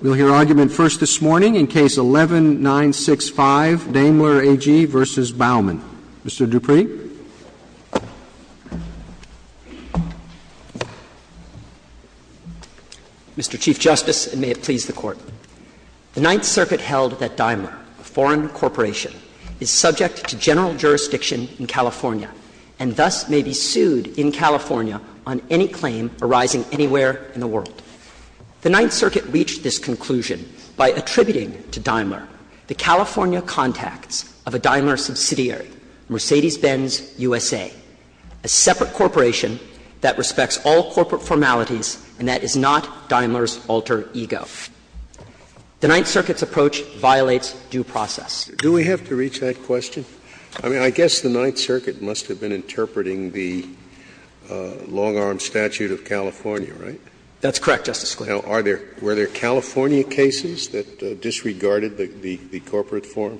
We'll hear argument first this morning in Case 11-965, Daimler AG v. Bauman. Mr. Dupree. Mr. Chief Justice, and may it please the Court. The Ninth Circuit held that Daimler, a foreign corporation, is subject to general jurisdiction in California, and thus may be sued in California on any claim arising anywhere in the world. The Ninth Circuit reached this conclusion by attributing to Daimler the California contacts of a Daimler subsidiary, Mercedes-Benz USA, a separate corporation that respects all corporate formalities and that is not Daimler's alter ego. The Ninth Circuit's approach violates due process. Scalia. Do we have to reach that question? I mean, I guess the Ninth Circuit must have been interpreting the long-arm statute of California, right? That's correct, Justice Scalia. Now, are there – were there California cases that disregarded the corporate form?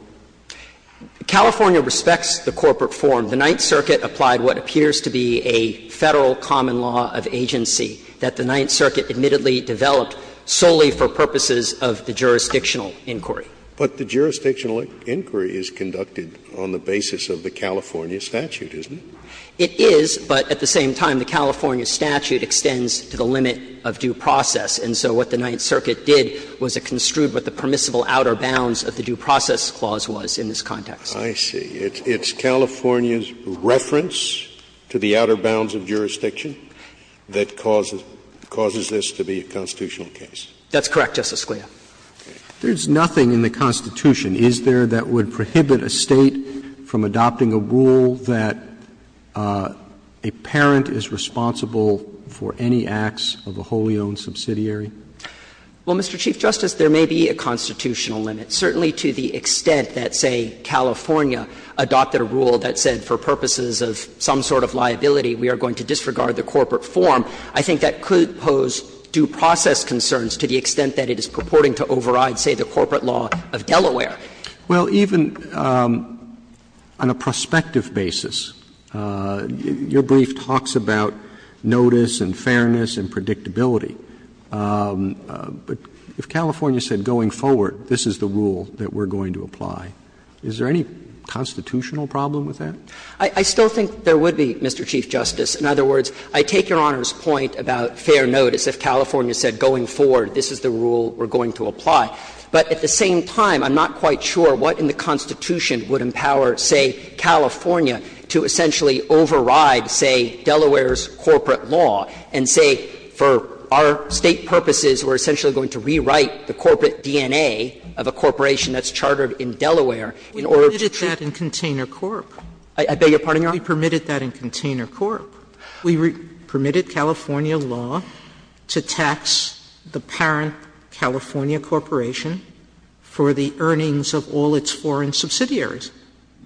California respects the corporate form. The Ninth Circuit applied what appears to be a Federal common law of agency that the Ninth Circuit admittedly developed solely for purposes of the jurisdictional inquiry. But the jurisdictional inquiry is conducted on the basis of the California statute, isn't it? It is, but at the same time, the California statute extends to the limit of due process. And so what the Ninth Circuit did was it construed what the permissible outer bounds of the due process clause was in this context. I see. It's California's reference to the outer bounds of jurisdiction that causes this to be a constitutional case. That's correct, Justice Scalia. There's nothing in the Constitution, is there, that would prohibit a State from adopting a rule that a parent is responsible for any acts of a wholly owned subsidiary? Well, Mr. Chief Justice, there may be a constitutional limit. Certainly to the extent that, say, California adopted a rule that said for purposes of some sort of liability, we are going to disregard the corporate form, I think that could pose due process concerns to the extent that it is purporting to override, say, the corporate law of Delaware. Well, even on a prospective basis, your brief talks about notice and fairness and predictability. But if California said going forward, this is the rule that we are going to apply, is there any constitutional problem with that? I still think there would be, Mr. Chief Justice. In other words, I take Your Honor's point about fair notice. If California said going forward, this is the rule we are going to apply. But at the same time, I'm not quite sure what in the Constitution would empower, say, California to essentially override, say, Delaware's corporate law and say for our State purposes we are essentially going to rewrite the corporate DNA of a corporation that's chartered in Delaware in order to treat. We permitted that in Container Corp. I beg your pardon, Your Honor? We permitted that in Container Corp. We permitted California law to tax the parent California corporation for the earnings of all its foreign subsidiaries.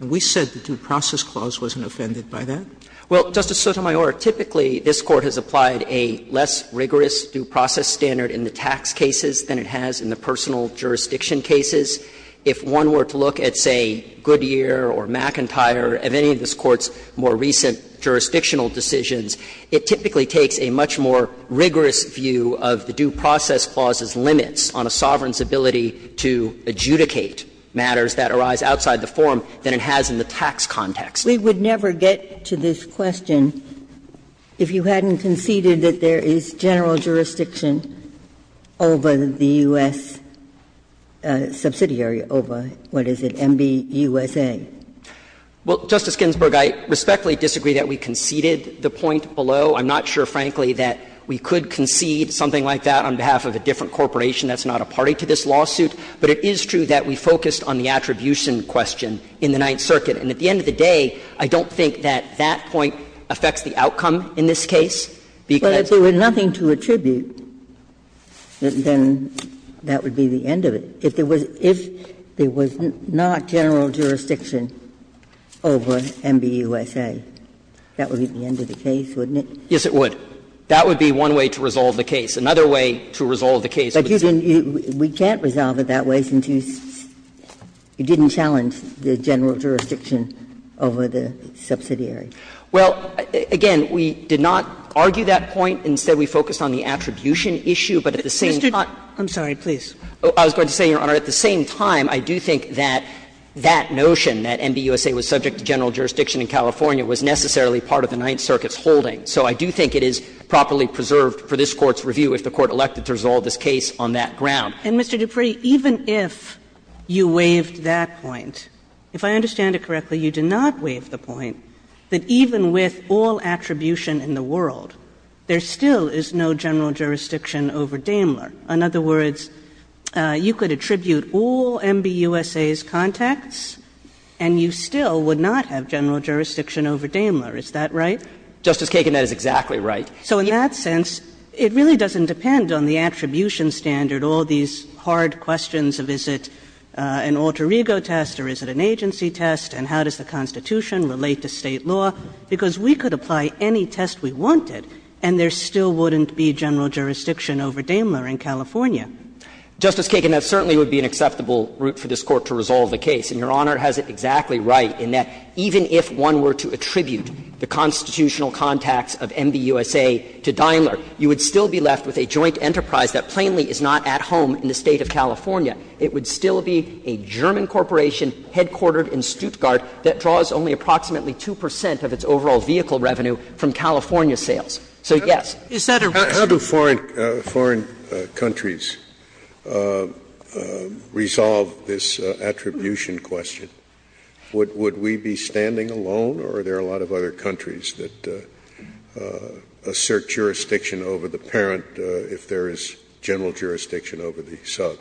And we said the Due Process Clause wasn't offended by that. Well, Justice Sotomayor, typically this Court has applied a less rigorous due process standard in the tax cases than it has in the personal jurisdiction cases. If one were to look at, say, Goodyear or McIntyre, of any of this Court's more recent jurisdictional decisions, it typically takes a much more rigorous view of the Due Process Clause's limits on a sovereign's ability to adjudicate matters that arise outside the form than it has in the tax context. We would never get to this question if you hadn't conceded that there is general jurisdiction over the U.S. subsidiary over, what is it, MBUSA. Well, Justice Ginsburg, I respectfully disagree that we conceded the point below. I'm not sure, frankly, that we could concede something like that on behalf of a different corporation that's not a party to this lawsuit. But it is true that we focused on the attribution question in the Ninth Circuit. And at the end of the day, I don't think that that point affects the outcome in this case, because they were not attributable. Ginsburg, if they were not attributable, then that would be the end of it. If there was not general jurisdiction over MBUSA, that would be the end of the case, wouldn't it? Yes, it would. That would be one way to resolve the case. Another way to resolve the case would be to resolve it that way, since you didn't challenge the general jurisdiction over the subsidiary. Well, again, we did not argue that point. Instead, we focused on the attribution issue, but at the same time. Mr. Dupree, I'm sorry, please. I was going to say, Your Honor, at the same time, I do think that that notion, that MBUSA was subject to general jurisdiction in California, was necessarily part of the Ninth Circuit's holding. So I do think it is properly preserved for this Court's review if the Court elected to resolve this case on that ground. And, Mr. Dupree, even if you waived that point, if I understand it correctly, you did not waive the point that even with all attribution in the world, there's still no general jurisdiction over Daimler. In other words, you could attribute all MBUSA's contacts, and you still would not have general jurisdiction over Daimler. Is that right? Justice Kagan, that is exactly right. So in that sense, it really doesn't depend on the attribution standard, all these hard questions of is it an alter ego test or is it an agency test, and how does the Constitution relate to State law, because we could apply any test we wanted, and there still wouldn't be general jurisdiction over Daimler in California. Justice Kagan, that certainly would be an acceptable route for this Court to resolve the case. And Your Honor has it exactly right in that even if one were to attribute the constitutional contacts of MBUSA to Daimler, you would still be left with a joint enterprise that plainly is not at home in the State of California. It would still be a German corporation headquartered in Stuttgart that draws only approximately 2 percent of its overall vehicle revenue from California sales. So, yes. Scalia, is that a reason? Scalia, how do foreign countries resolve this attribution question? Would we be standing alone, or are there a lot of other countries that assert jurisdiction over the parent if there is general jurisdiction over the sub?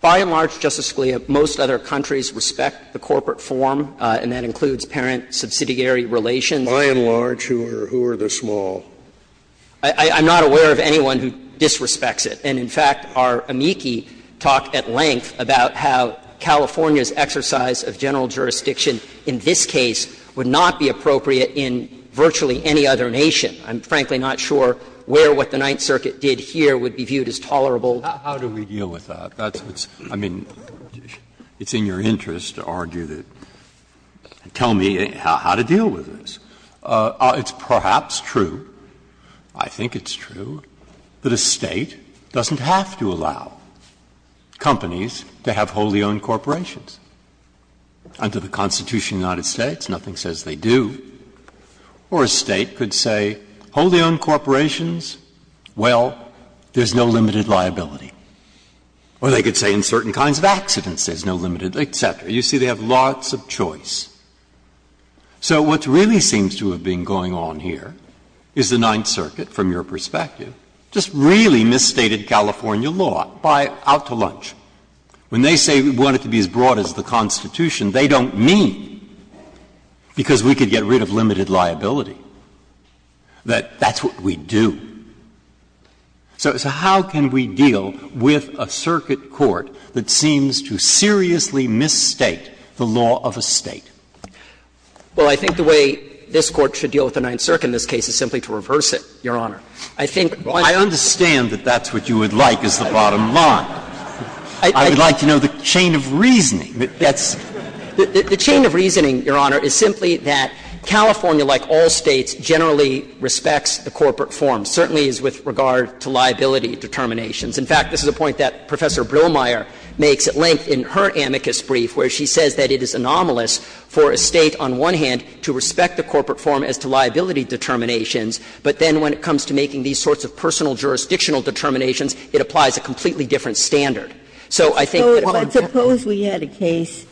By and large, Justice Scalia, most other countries respect the corporate form, and that includes parent subsidiary relations. By and large, who are the small? I'm not aware of anyone who disrespects it. And, in fact, our amici talk at length about how California's exercise of general jurisdiction in this case would not be appropriate in virtually any other nation. I'm, frankly, not sure where what the Ninth Circuit did here would be viewed as tolerable. How do we deal with that? That's what's – I mean, it's in your interest to argue that – tell me how to deal with this. It's perhaps true, I think it's true, that a State doesn't have to allow companies to have wholly owned corporations. Under the Constitution of the United States, nothing says they do. Or a State could say, wholly owned corporations, well, there's no limited liability. Or they could say in certain kinds of accidents there's no limited liability, et cetera. You see, they have lots of choice. So what really seems to have been going on here is the Ninth Circuit, from your perspective, just really misstated California law by out to lunch. When they say we want it to be as broad as the Constitution, they don't mean because we could get rid of limited liability, that that's what we do. So how can we deal with a circuit court that seems to seriously misstate the law of a State? Well, I think the way this Court should deal with the Ninth Circuit in this case is simply to reverse it, Your Honor. I think one of the— Well, I understand that that's what you would like as the bottom line. I would like to know the chain of reasoning. That's – the chain of reasoning, Your Honor, is simply that California, like all States, generally respects the corporate form, certainly as with regard to liability determinations. In fact, this is a point that Professor Brillmeier makes at length in her amicus brief, where she says that it is anomalous for a State, on one hand, to respect the corporate form as to liability determinations, but then when it comes to making these sorts of personal jurisdictional determinations, it applies a completely different standard. So I think that if I'm not wrong— But suppose we had a case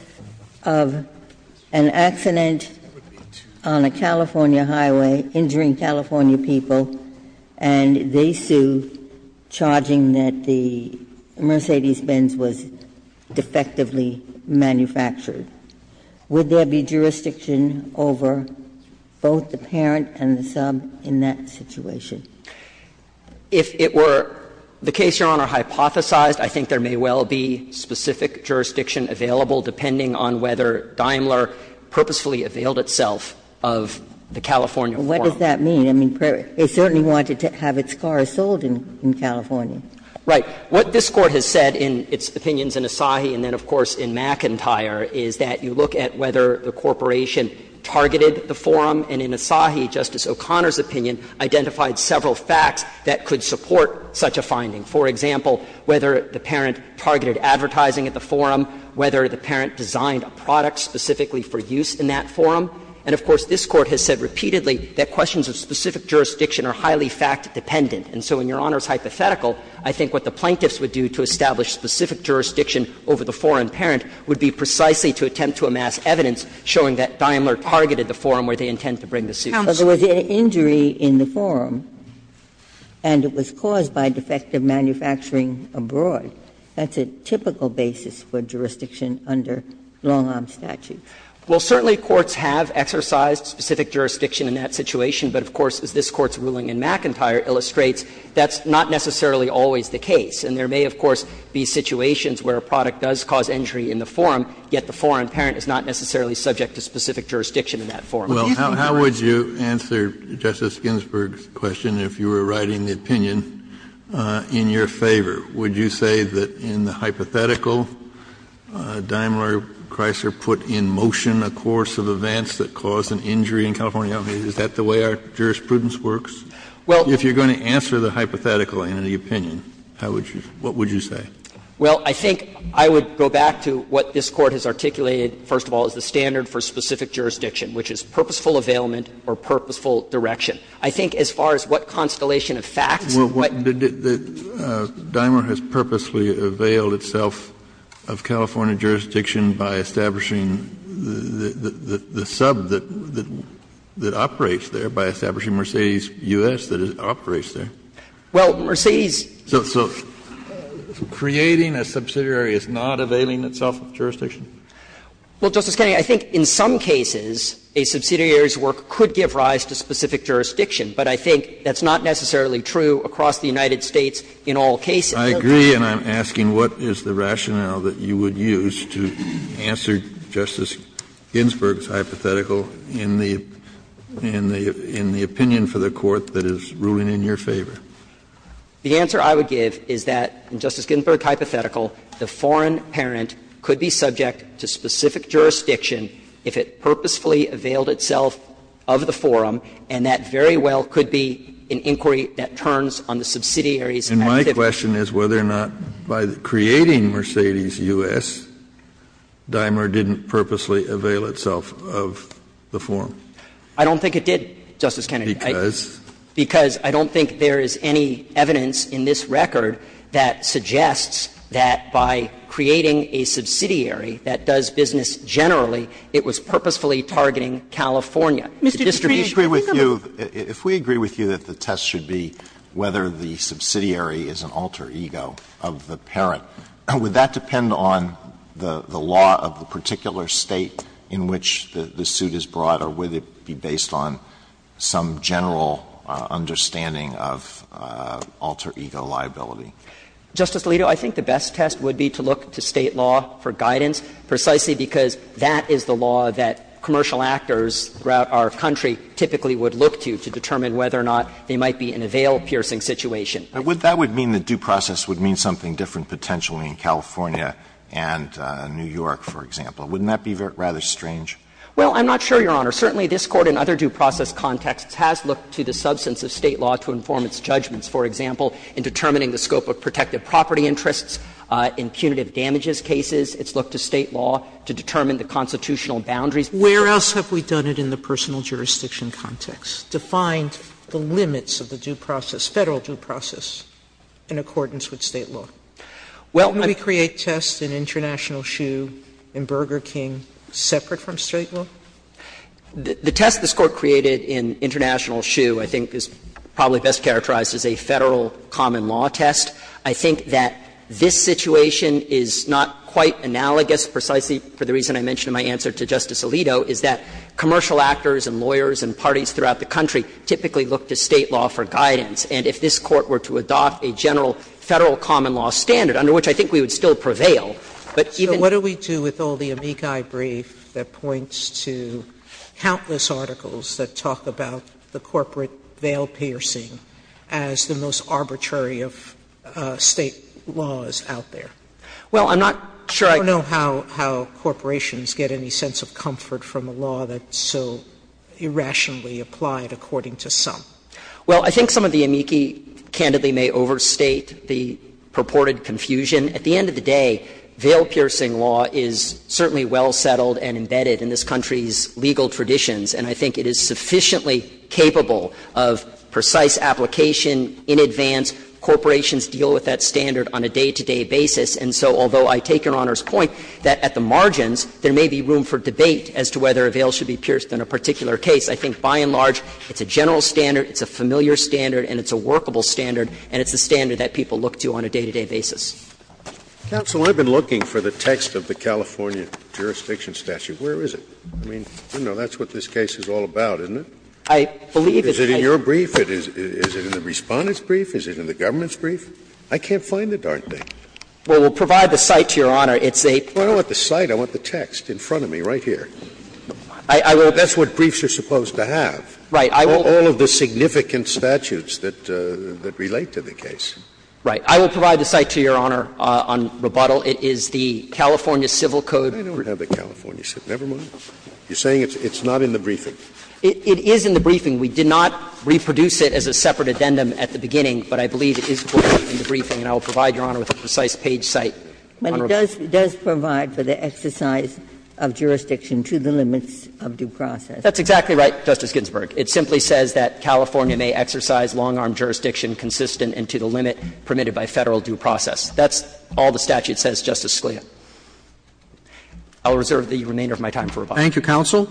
of an accident on a California highway, injuring California people, and they sue, charging that the Mercedes-Benz was defectively manufactured. Would there be jurisdiction over both the parent and the sub in that situation? If it were the case, Your Honor, hypothesized, I think there may well be specific jurisdiction available, depending on whether Daimler purposefully availed itself of the California form. What does that mean? I mean, they certainly wanted to have its car sold in California. Right. What this Court has said in its opinions in Asahi and then, of course, in McIntyre is that you look at whether the corporation targeted the forum. And in Asahi, Justice O'Connor's opinion identified several facts that could support such a finding. For example, whether the parent targeted advertising at the forum, whether the parent designed a product specifically for use in that forum. And, of course, this Court has said repeatedly that questions of specific jurisdiction are highly fact-dependent. And so in Your Honor's hypothetical, I think what the plaintiffs would do to establish specific jurisdiction over the foreign parent would be precisely to attempt to amass evidence showing that Daimler targeted the forum where they intend to bring the suit. Ginsburg. But there was an injury in the forum, and it was caused by defective manufacturing abroad. That's a typical basis for jurisdiction under long-arm statute. Well, certainly courts have exercised specific jurisdiction in that situation, but of course, as this Court's ruling in McIntyre illustrates, that's not necessarily always the case. And there may, of course, be situations where a product does cause injury in the forum, yet the foreign parent is not necessarily subject to specific jurisdiction in that forum. Kennedy. Well, how would you answer Justice Ginsburg's question if you were writing the opinion in your favor? Would you say that in the hypothetical, Daimler-Chrysler put in motion a course of events that caused an injury in California? I mean, is that the way our jurisprudence works? Well, if you're going to answer the hypothetical in the opinion, how would you do it? What would you say? Well, I think I would go back to what this Court has articulated, first of all, as the standard for specific jurisdiction, which is purposeful availment or purposeful direction. Kennedy, but Daimler has purposely availed itself of California jurisdiction by establishing the sub that operates there, by establishing Mercedes U.S. that operates there. Well, Mercedes. So creating a subsidiary is not availing itself of jurisdiction? Well, Justice Kennedy, I think in some cases a subsidiary's work could give rise to specific jurisdiction, but I think that's not necessarily true across the United States in all cases. Kennedy, I agree, and I'm asking what is the rationale that you would use to answer Justice Ginsburg's hypothetical in the opinion for the Court that is ruling in your favor? The answer I would give is that, in Justice Ginsburg's hypothetical, the foreign parent could be subject to specific jurisdiction if it purposefully availed itself of the forum, and that very well could be an inquiry that turns on the subsidiary's activity. And my question is whether or not by creating Mercedes U.S., Daimler didn't purposely avail itself of the forum. I don't think it did, Justice Kennedy. Because? Because I don't think there is any evidence in this record that suggests that by creating a subsidiary that does business generally, it was purposefully targeting California. Mr. Dutri, do you agree with me? If we agree with you that the test should be whether the subsidiary is an alter ego of the parent, would that depend on the law of the particular State in which the suit is brought, or would it be based on some general understanding of alter ego liability? Justice Alito, I think the best test would be to look to State law for guidance, precisely because that is the law that commercial actors throughout our country typically would look to to determine whether or not they might be in a veil-piercing situation. That would mean the due process would mean something different potentially in California and New York, for example. Wouldn't that be rather strange? Well, I'm not sure, Your Honor. Certainly, this Court in other due process contexts has looked to the substance of State law to inform its judgments. For example, in determining the scope of protective property interests, in punitive damages cases, it's looked to State law to determine the constitutional boundaries. Sotomayor, where else have we done it in the personal jurisdiction context, defined the limits of the due process, Federal due process, in accordance with State law? Well, I'm going to create tests in International Shoe and Burger King separate from State law? The test this Court created in International Shoe, I think, is probably best characterized as a Federal common law test. I think that this situation is not quite analogous, precisely for the reason I mentioned in my answer to Justice Alito, is that commercial actors and lawyers and parties throughout the country typically look to State law for guidance. And if this Court were to adopt a general Federal common law standard, under which I think we would still prevail, but even so. Sotomayor, what do we do with all the amici brief that points to countless articles that talk about the corporate veil piercing as the most arbitrary of State laws out there? Well, I'm not sure I know how corporations get any sense of comfort from a law that is so irrationally applied according to some. Well, I think some of the amici candidly may overstate the purported confusion. At the end of the day, veil-piercing law is certainly well settled and embedded in this country's legal traditions, and I think it is sufficiently capable of precise application in advance. Corporations deal with that standard on a day-to-day basis, and so although I take Your Honor's point that at the margins there may be room for debate as to whether a veil should be pierced in a particular case, I think by and large it's a general standard, it's a familiar standard, and it's a workable standard, and it's a standard that people look to on a day-to-day basis. Scalia Counsel, I've been looking for the text of the California jurisdiction statute. Where is it? I mean, you know, that's what this case is all about, isn't it? Is it in your brief, is it in the Respondent's brief, is it in the government's brief? I can't find it, aren't they? Well, we'll provide the site to Your Honor. It's a period. I don't want the site, I want the text in front of me right here. That's what briefs are supposed to have. Right. I will. All of the significant statutes that relate to the case. Right. I will provide the site to Your Honor on rebuttal. It is the California Civil Code. I never have the California Civil Code. Never mind. You're saying it's not in the briefing. It is in the briefing. We did not reproduce it as a separate addendum at the beginning, but I believe it is in the briefing, and I will provide Your Honor with a precise page site. But it does provide for the exercise of jurisdiction to the limits of due process. That's exactly right, Justice Ginsburg. It simply says that California may exercise long-arm jurisdiction consistent with the jurisdiction and to the limit permitted by Federal due process. That's all the statute says, Justice Scalia. I will reserve the remainder of my time for rebuttal. Thank you, counsel.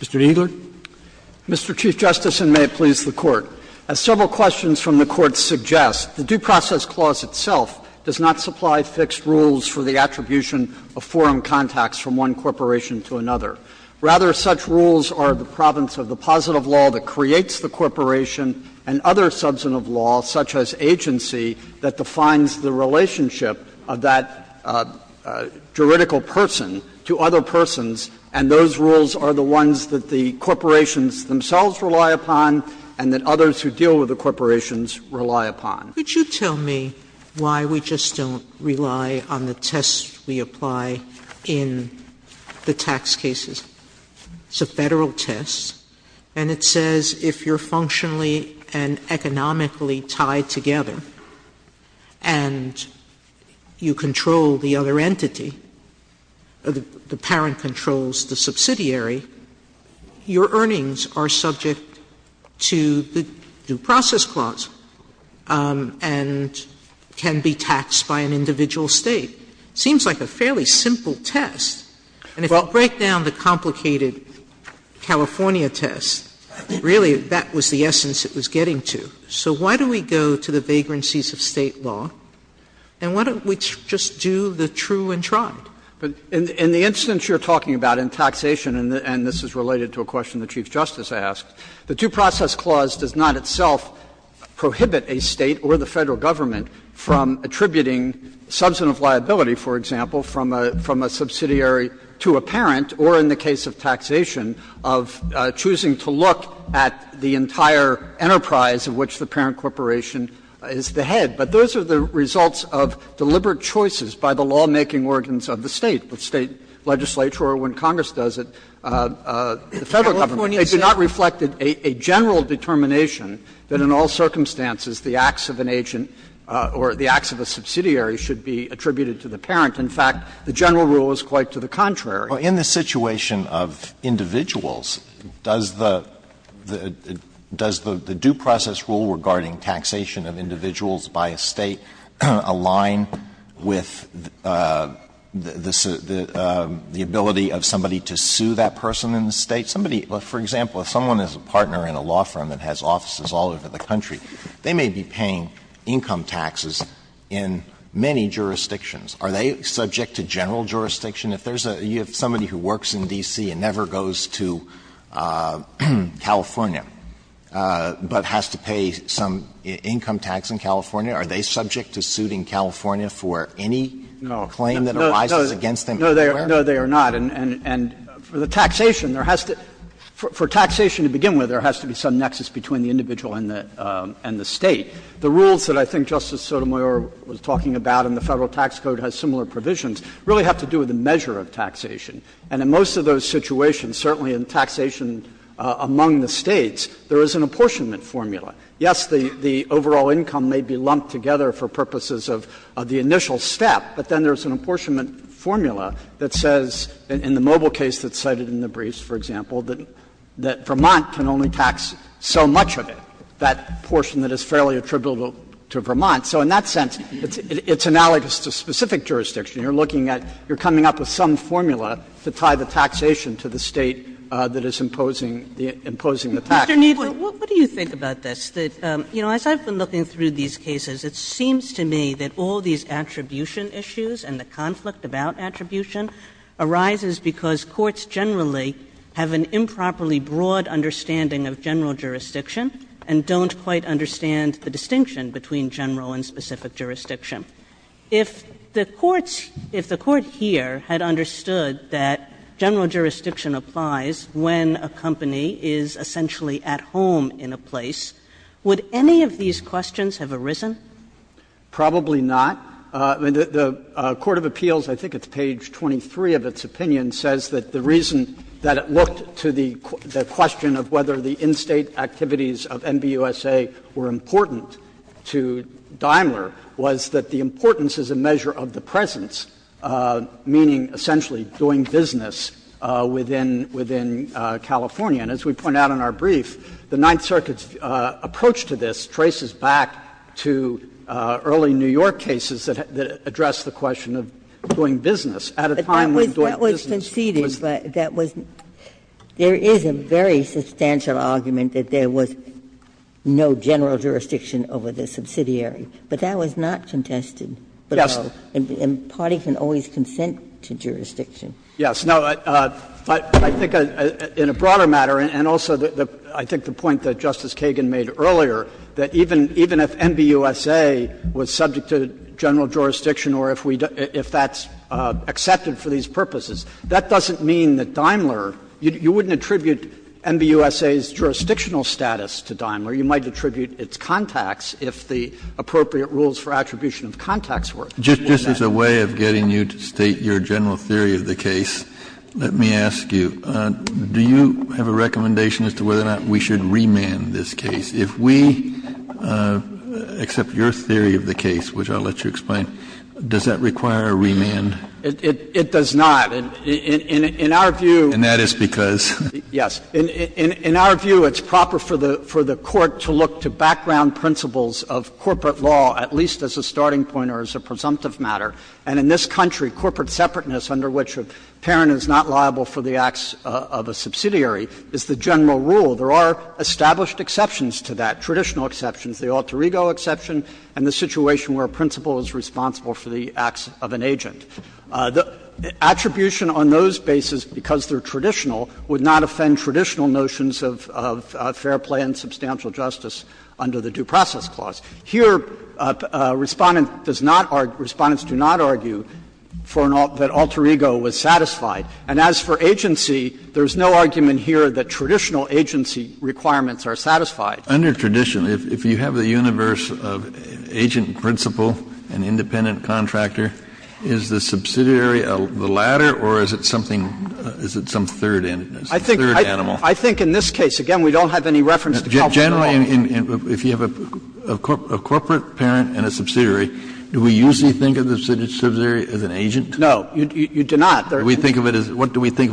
Mr. Kneedler. Mr. Chief Justice, and may it please the Court. As several questions from the Court suggest, the Due Process Clause itself does not Rather, such rules are the province of the positive law that creates the corporation and other substantive laws, such as agency, that defines the relationship of that juridical person to other persons, and those rules are the ones that the corporations themselves rely upon and that others who deal with the corporations rely upon. Could you tell me why we just don't rely on the tests we apply in the tax cases? It's a Federal test, and it says if you're functionally and economically tied together and you control the other entity, the parent controls the subsidiary, your earnings are subject to the Due Process Clause. And can be taxed by an individual State. It seems like a fairly simple test. And if you break down the complicated California test, really, that was the essence it was getting to. So why do we go to the vagrancies of State law, and why don't we just do the true and tried? In the instance you're talking about in taxation, and this is related to a question the Chief Justice asked, the Due Process Clause does not itself prohibit a State or the Federal Government from attributing substantive liability, for example, from a subsidiary to a parent, or in the case of taxation, of choosing to look at the entire enterprise of which the parent corporation is the head. But those are the results of deliberate choices by the lawmaking organs of the State, the State legislature, or when Congress does it, the Federal Government. They do not reflect a general determination that in all circumstances the acts of an agent or the acts of a subsidiary should be attributed to the parent. In fact, the general rule is quite to the contrary. Alito, in the situation of individuals, does the due process rule regarding taxation of individuals by a State align with the ability of somebody to sue that person in the State? Somebody — for example, if someone is a partner in a law firm that has offices all over the country, they may be paying income taxes in many jurisdictions. Are they subject to general jurisdiction? If there's a — if somebody who works in D.C. and never goes to California but has to pay some income tax in California, are they subject to suing California for any claim that arises against them? No, they are not. And for the taxation, there has to — for taxation to begin with, there has to be some nexus between the individual and the State. The rules that I think Justice Sotomayor was talking about in the Federal Tax Code And in most of those situations, certainly in taxation among the States, there is an apportionment formula. Yes, the overall income may be lumped together for purposes of the initial step, but then there's an apportionment formula that says, in the Mobile case that's cited in the briefs, for example, that Vermont can only tax so much of it, that portion that is fairly attributable to Vermont. So in that sense, it's analogous to specific jurisdiction. You're looking at – you're coming up with some formula to tie the taxation to the State that is imposing the taxes. Kagan. Mr. Kneedler, what do you think about this? You know, as I've been looking through these cases, it seems to me that all these attribution issues and the conflict about attribution arises because courts generally have an improperly broad understanding of general jurisdiction and don't quite understand the distinction between general and specific jurisdiction. If the courts – if the Court here had understood that general jurisdiction applies when a company is essentially at home in a place, would any of these questions have arisen? Kneedler, Probably not. The Court of Appeals, I think it's page 23 of its opinion, says that the reason that it looked to the question of whether the in-State activities of MBUSA were important to Daimler was that the importance is a measure of the presence, meaning essentially doing business within – within California. And as we point out in our brief, the Ninth Circuit's approach to this traces back to early New York cases that address the question of doing business at a time when doing business was. Ginsburg There is a very substantial argument that there was no general jurisdiction over the subsidiary, but that was not contested. Kneedler, Yes. And parties can always consent to jurisdiction. Kneedler, Yes. No, but I think in a broader matter, and also I think the point that Justice Kagan made earlier, that even if MBUSA was subject to general jurisdiction or if we – if that's accepted for these purposes, that doesn't mean that Daimler – you wouldn't attribute MBUSA's jurisdictional status to Daimler. You might attribute its contacts, if the appropriate rules for attribution of contacts were. Kennedy Just as a way of getting you to state your general theory of the case, let me ask you, do you have a recommendation as to whether or not we should remand this case? If we accept your theory of the case, which I'll let you explain, does that require Kneedler, It does not. In our view, and that is because, yes, in our view, it's proper for the Court to look to background principles of corporate law, at least as a starting point or as a presumptive matter. And in this country, corporate separateness under which a parent is not liable for the acts of a subsidiary is the general rule. There are established exceptions to that, traditional exceptions, the alter ego exception, and the situation where a principal is responsible for the acts of an agent. The attribution on those bases, because they're traditional, would not offend traditional notions of fair play and substantial justice under the Due Process Clause. Here, Respondent does not argue, Respondents do not argue for an alter ego was satisfied. And as for agency, there is no argument here that traditional agency requirements are satisfied. Kennedy, if you have the universe of agent, principal, and independent contractor, is the subsidiary the latter or is it something, is it some third animal? Kneedler, I think in this case, again, we don't have any reference to culture at all. Kennedy, if you have a corporate parent and a subsidiary, do we usually think of the subsidiary as an agent? Kneedler, no, you do not. What do we think of it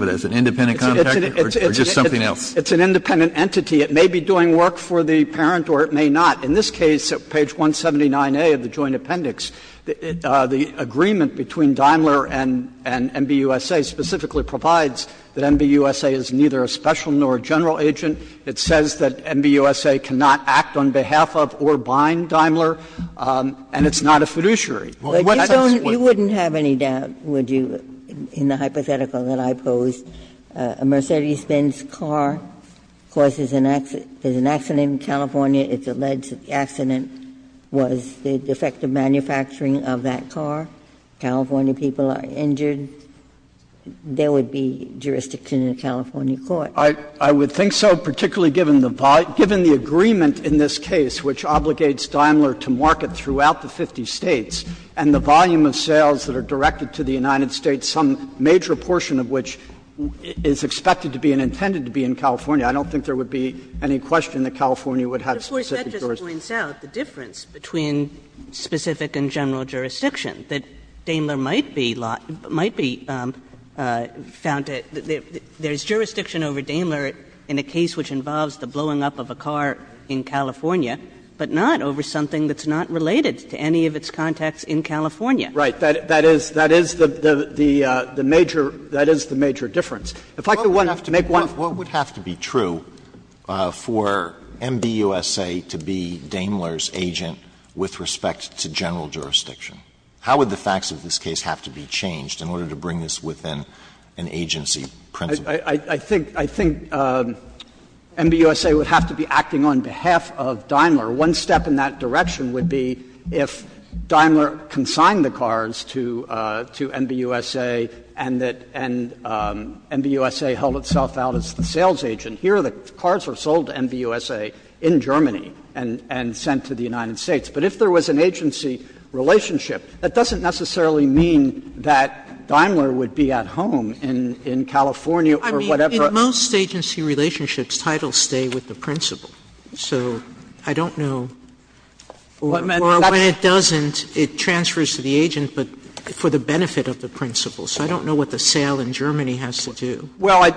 as, an independent contractor or just something else? It's an independent entity. It may be doing work for the parent or it may not. In this case, page 179A of the Joint Appendix, the agreement between Daimler and MBUSA specifically provides that MBUSA is neither a special nor a general agent. It says that MBUSA cannot act on behalf of or bind Daimler, and it's not a fiduciary. Ginsburg, you wouldn't have any doubt, would you, in the hypothetical that I posed? A Mercedes-Benz car causes an accident in California. It's alleged that the accident was the defective manufacturing of that car. California people are injured. There would be jurisdiction in a California court. Kneedler, I would think so, particularly given the volume, given the agreement in this case which obligates Daimler to market throughout the 50 States. And the volume of sales that are directed to the United States, some major portion of which is expected to be and intended to be in California, I don't think there would be any question that California would have specific jurisdiction. Kagan. But of course, that just points out the difference between specific and general jurisdiction, that Daimler might be found to be ‑‑ there is jurisdiction over Daimler in a case which involves the blowing up of a car in California, but not over something that's not related to any of its contacts in California. Right. That is ‑‑ that is the ‑‑ the major ‑‑ that is the major difference. If I could make one ‑‑ What would have to be true for MBUSA to be Daimler's agent with respect to general jurisdiction? How would the facts of this case have to be changed in order to bring this within an agency principle? I think ‑‑ I think MBUSA would have to be acting on behalf of Daimler. One step in that direction would be if Daimler consigned the cars to MBUSA, and that ‑‑ and MBUSA held itself out as the sales agent. Here, the cars were sold to MBUSA in Germany and sent to the United States. But if there was an agency relationship, that doesn't necessarily mean that Daimler would be at home in California or whatever. I mean, in most agency relationships, titles stay with the principle. So I don't know. Or when it doesn't, it transfers to the agent, but for the benefit of the principle. So I don't know what the sale in Germany has to do. Well,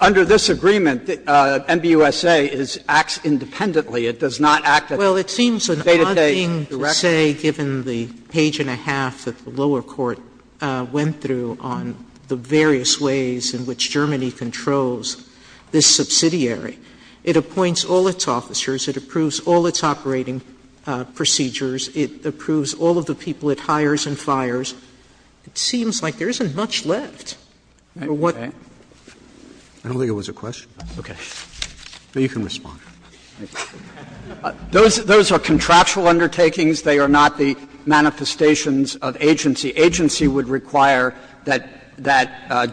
under this agreement, MBUSA is ‑‑ acts independently. It does not act as a data‑based director. Well, it seems an odd thing to say, given the page and a half that the lower court went through on the various ways in which Germany controls this subsidiary. It appoints all its officers. It approves all its operating procedures. It approves all of the people it hires and fires. It seems like there isn't much left. I don't think it was a question. Okay. You can respond. Those are contractual undertakings. They are not the manifestations of agency. The agency would require that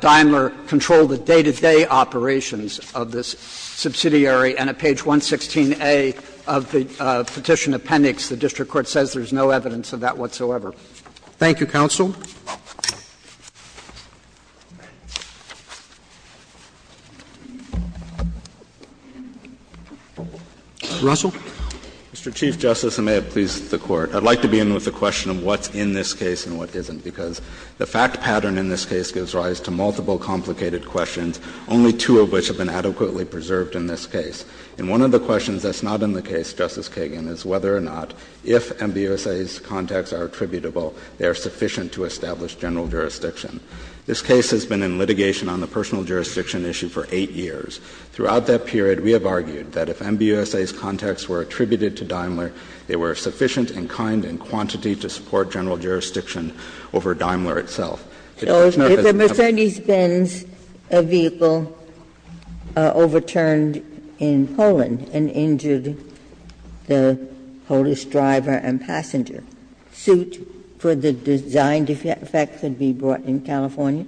Daimler control the day‑to‑day operations of this subsidiary, and at page 116A of the Petition Appendix, the district court says there is no evidence of that whatsoever. Thank you, counsel. Russell. I'd like to begin with the question of what's in this case and what isn't, because the fact pattern in this case gives rise to multiple complicated questions, only two of which have been adequately preserved in this case. And one of the questions that's not in the case, Justice Kagan, is whether or not if MBUSA's contacts are attributable, they are sufficient to establish general jurisdiction. This case has been in litigation on the personal jurisdiction issue for eight years. Throughout that period, we have argued that if MBUSA's contacts were attributed to Daimler, they were sufficient and kind in quantity to support general jurisdiction over Daimler itself. It's not as if we have a— Ginsburg. If a Mercedes-Benz vehicle overturned in Poland and injured the Polish driver and passenger, suit for the design defect could be brought in California?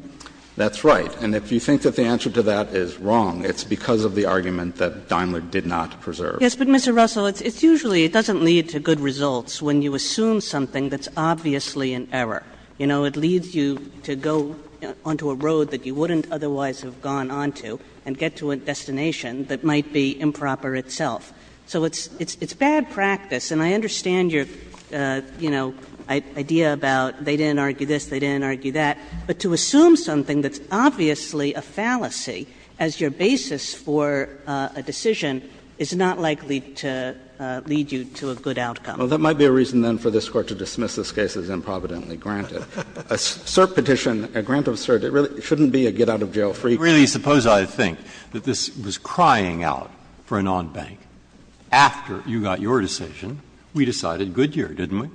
That's right. And if you think that the answer to that is wrong, it's because of the argument that Daimler did not preserve. Yes, but, Mr. Russell, it's usually, it doesn't lead to good results when you assume something that's obviously an error. You know, it leads you to go onto a road that you wouldn't otherwise have gone onto and get to a destination that might be improper itself. So it's bad practice, and I understand your, you know, idea about they didn't argue this, they didn't argue that, but to assume something that's obviously a fallacy as your basis for a decision is not likely to lead you to a good outcome. Well, that might be a reason, then, for this Court to dismiss this case as improvidently granted. A cert petition, a grant of cert, it really shouldn't be a get-out-of-jail-free case. Really, suppose I think that this was crying out for an on-bank. After you got your decision, we decided Goodyear, didn't we?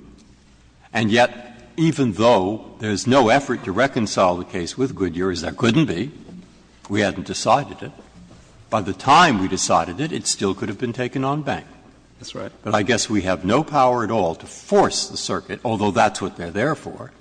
And yet, even though there's no effort to reconcile the case with Goodyear, as there couldn't be, we hadn't decided it, by the time we decided it, it still could have been taken on-bank. That's right. But I guess we have no power at all to force the circuit, although that's what they're there for,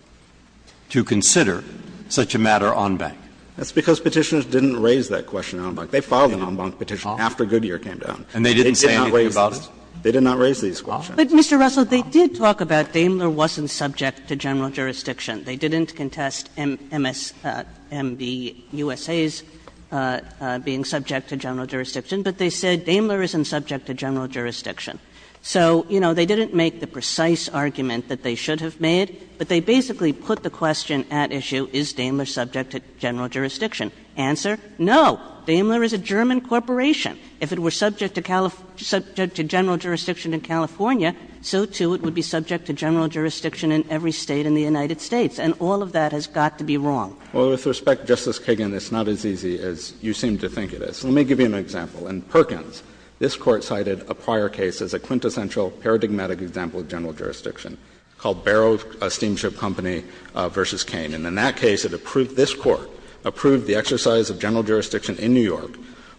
to consider such a matter on-bank. That's because Petitioners didn't raise that question on-bank. They filed an on-bank petition after Goodyear came down. And they didn't say anything about it? They did not raise these questions. But, Mr. Russell, they did talk about Daimler wasn't subject to general jurisdiction. They didn't contest MSMBUSA's being subject to general jurisdiction, but they said Daimler isn't subject to general jurisdiction. So, you know, they didn't make the precise argument that they should have made, but they basically put the question at issue, is Daimler subject to general jurisdiction? Answer, no, Daimler is a German corporation. If it were subject to general jurisdiction in California, so, too, it would be subject to general jurisdiction in every State in the United States, and all of that has got to be wrong. Russell, with respect, Justice Kagan, it's not as easy as you seem to think it is. Let me give you an example. In Perkins, this Court cited a prior case as a quintessential paradigmatic example of general jurisdiction called Barrow Steamship Company v. Kane. And in that case, it approved this Court, approved the exercise of general jurisdiction in New York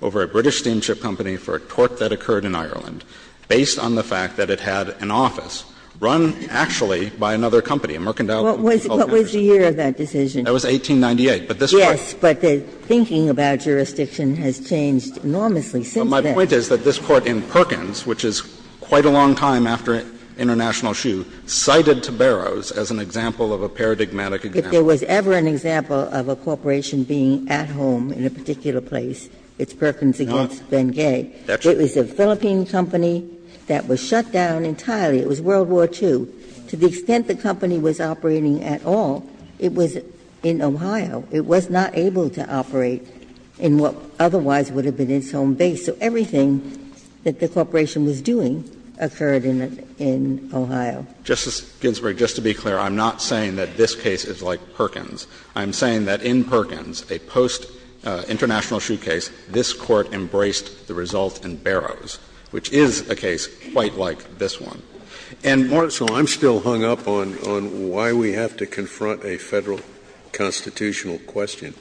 over a British steamship company for a tort that occurred in Ireland based on the fact that it had an office run, actually, by another company, a mercantile company. Ginsburg What was the year of that decision? Russell That was 1898, but this Court Ginsburg Yes, but the thinking about jurisdiction has changed enormously since then. Russell But my point is that this Court in Perkins, which is quite a long time after International Shoe, cited to Barrows as an example of a paradigmatic example. Ginsburg If there was ever an example of a corporation being at home in a particular place, it's Perkins v. Bengay. It was a Philippine company that was shut down entirely. It was World War II. To the extent the company was operating at all, it was in Ohio. It was not able to operate in what otherwise would have been its home base. So everything that the corporation was doing occurred in Ohio. Russell Justice Ginsburg, just to be clear, I'm not saying that this case is like Perkins. I'm saying that in Perkins, a post-International Shoe case, this Court embraced the result in Barrows, which is a case quite like this one. Scalia And, Marcell, I'm still hung up on why we have to confront a Federal constitutional question.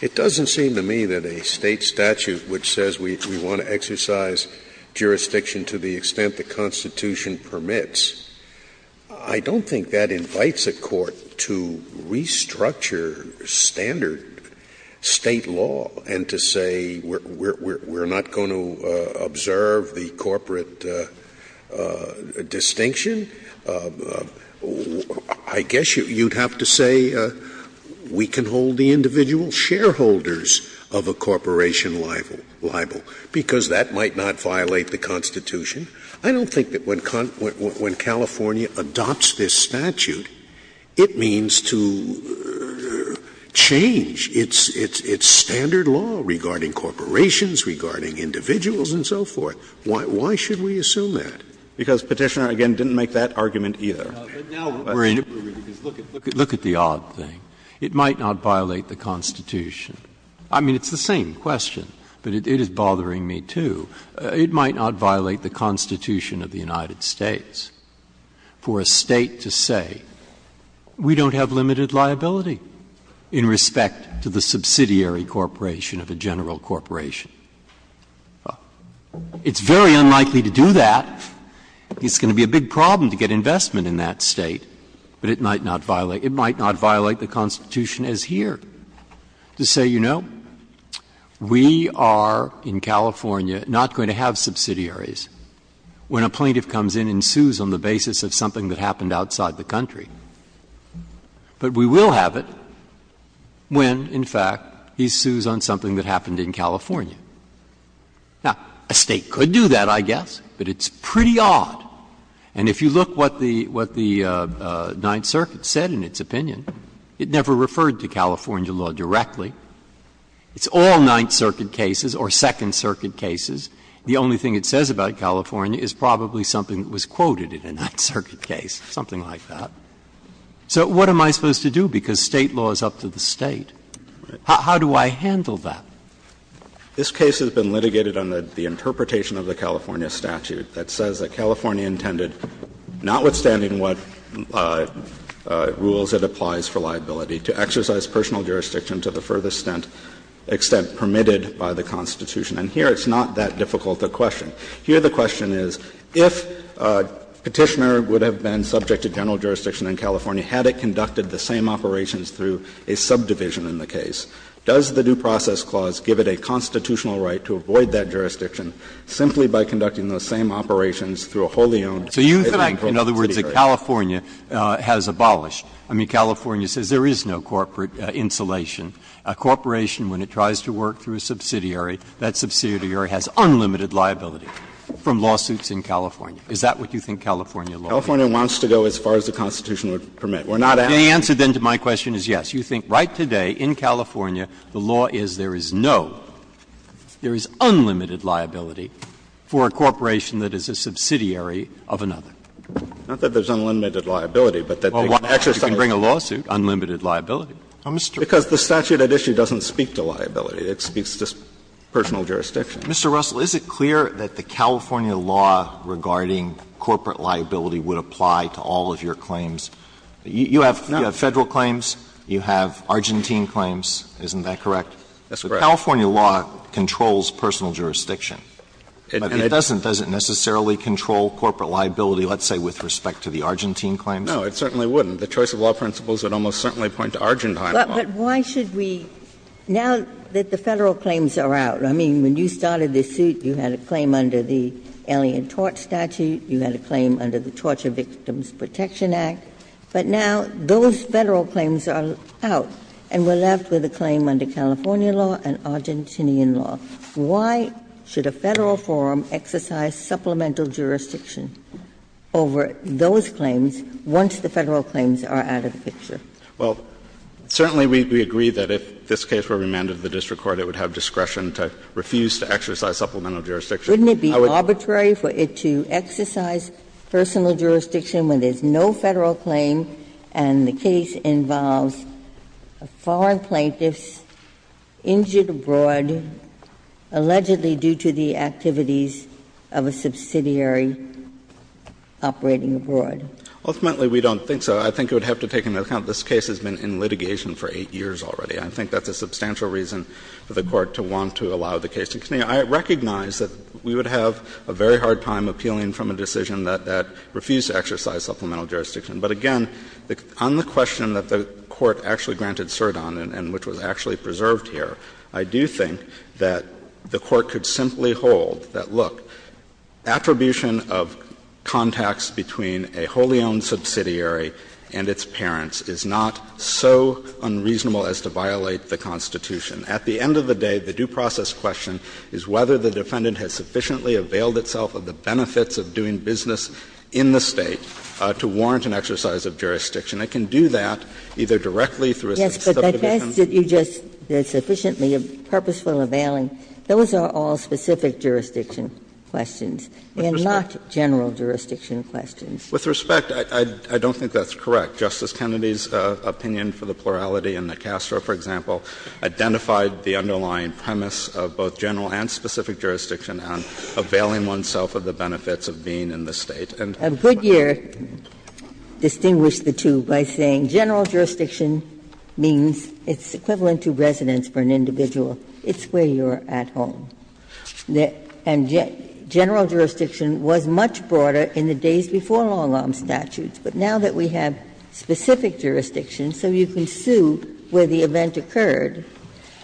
It doesn't seem to me that a State statute which says we want to exercise jurisdiction to the extent the Constitution permits, I don't think that invites a Court to restructure standard State law and to say we're not going to observe the corporate distinction. I guess you would have to say we can hold the individual shareholders of a corporation liable, because that might not violate the Constitution. I don't think that when California adopts this statute, it means to restrict the individual shareholders of a corporation. It doesn't change its standard law regarding corporations, regarding individuals, and so forth. Why should we assume that? Because Petitioner, again, didn't make that argument either. Breyer Look at the odd thing. It might not violate the Constitution. I mean, it's the same question, but it is bothering me, too. It might not violate the Constitution of the United States for a State to say we don't have limited liability in respect to the subsidiary corporation of a general corporation. It's very unlikely to do that. It's going to be a big problem to get investment in that State, but it might not violate the Constitution as here. To say, you know, we are in California not going to have subsidiaries when a plaintiff comes in and sues on the basis of something that happened outside the country. But we will have it when, in fact, he sues on something that happened in California. Now, a State could do that, I guess, but it's pretty odd. And if you look what the Ninth Circuit said in its opinion, it never referred to California law directly. It's all Ninth Circuit cases or Second Circuit cases. The only thing it says about California is probably something that was quoted in a Ninth Circuit case, something like that. So what am I supposed to do, because State law is up to the State? How do I handle that? This case has been litigated under the interpretation of the California statute that says that California intended, notwithstanding what rules it applies for liability, to exercise personal jurisdiction to the furthest extent permitted by the Constitution. And here it's not that difficult a question. Here the question is, if Petitioner would have been subject to general jurisdiction in California had it conducted the same operations through a subdivision in the case, does the Due Process Clause give it a constitutional right to avoid that jurisdiction simply by conducting those same operations through a wholly owned entity? In other words, if California has abolished, I mean, California says there is no corporate insulation. A corporation, when it tries to work through a subsidiary, that subsidiary has unlimited liability from lawsuits in California. Is that what you think California law is? California wants to go as far as the Constitution would permit. We're not asking you to go as far as the Constitution would permit. The answer, then, to my question is yes. You think right today in California the law is there is no, there is unlimited liability for a corporation that is a subsidiary of another. Not that there is unlimited liability, but that they can exercise it. Alito, you can bring a lawsuit, unlimited liability. Because the statute at issue doesn't speak to liability, it speaks to personal jurisdiction. Mr. Russell, is it clear that the California law regarding corporate liability would apply to all of your claims? You have Federal claims, you have Argentine claims, isn't that correct? That's correct. But California law controls personal jurisdiction. But it doesn't necessarily control corporate liability, let's say, with respect to the Argentine claims? No, it certainly wouldn't. The choice of law principles would almost certainly point to Argentine law. But why should we, now that the Federal claims are out, I mean, when you started this suit, you had a claim under the Alien Tort Statute, you had a claim under the Torture Victims Protection Act, but now those Federal claims are out and we're left with a claim under California law and Argentinian law. Why should a Federal forum exercise supplemental jurisdiction over those claims once the Federal claims are out of the picture? Well, certainly we agree that if this case were remanded to the district court, it would have discretion to refuse to exercise supplemental jurisdiction. I would be arbitrary for it to exercise personal jurisdiction when there's no Federal claim and the case involves foreign plaintiffs injured abroad allegedly due to the activities of a subsidiary operating abroad. Ultimately, we don't think so. I think you would have to take into account this case has been in litigation for 8 years already. I think that's a substantial reason for the Court to want to allow the case to continue. I recognize that we would have a very hard time appealing from a decision that refused to exercise supplemental jurisdiction, but again, on the question that the Court actually granted cert on and which was actually preserved here, I do think that the Court could simply hold that, look, attribution of contacts between a wholly-owned subsidiary and its parents is not so unreasonable as to violate the Constitution. At the end of the day, the due process question is whether the defendant has sufficiently availed itself of the benefits of doing business in the State to warrant an exercise of jurisdiction. It can do that either directly through a substantive account. Ginsburg. But that has to be just sufficiently purposeful availing. Those are all specific jurisdiction questions and not general jurisdiction questions. With respect, I don't think that's correct. Justice Kennedy's opinion for the plurality in the Castro, for example, identified the underlying premise of both general and specific jurisdiction and availing oneself of the benefits of being in the State. And could you distinguish the two by saying general jurisdiction means it's equivalent to residence for an individual, it's where you're at home. And general jurisdiction was much broader in the days before long-arm statutes. But now that we have specific jurisdiction, so you can sue where the event occurred,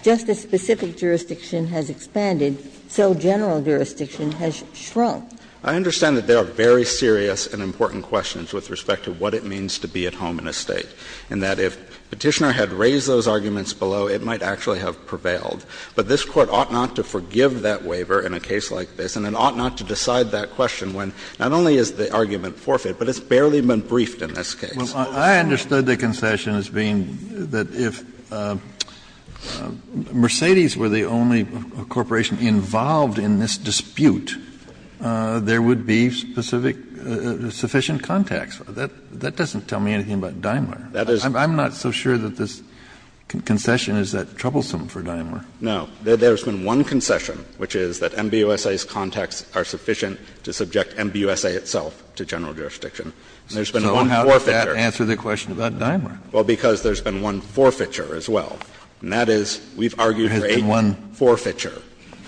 just as specific jurisdiction has expanded, so general jurisdiction has shrunk. I understand that there are very serious and important questions with respect to what it means to be at home in a State, and that if Petitioner had raised those arguments below, it might actually have prevailed. But this Court ought not to forgive that waiver in a case like this, and it ought not to decide that question when not only is the argument forfeit, but it's barely been briefed in this case. Kennedy, I understood the concession as being that if Mercedes were the only corporation involved in this dispute, there would be specific, sufficient contacts. That doesn't tell me anything about Daimler. I'm not so sure that this concession is that troublesome for Daimler. No. There's been one concession, which is that MBUSA's contacts are sufficient to subject MBUSA itself to general jurisdiction. There's been one forfeiture. So how does that answer the question about Daimler? Well, because there's been one forfeiture as well. And that is, we've argued for 8 years. There's been one forfeiture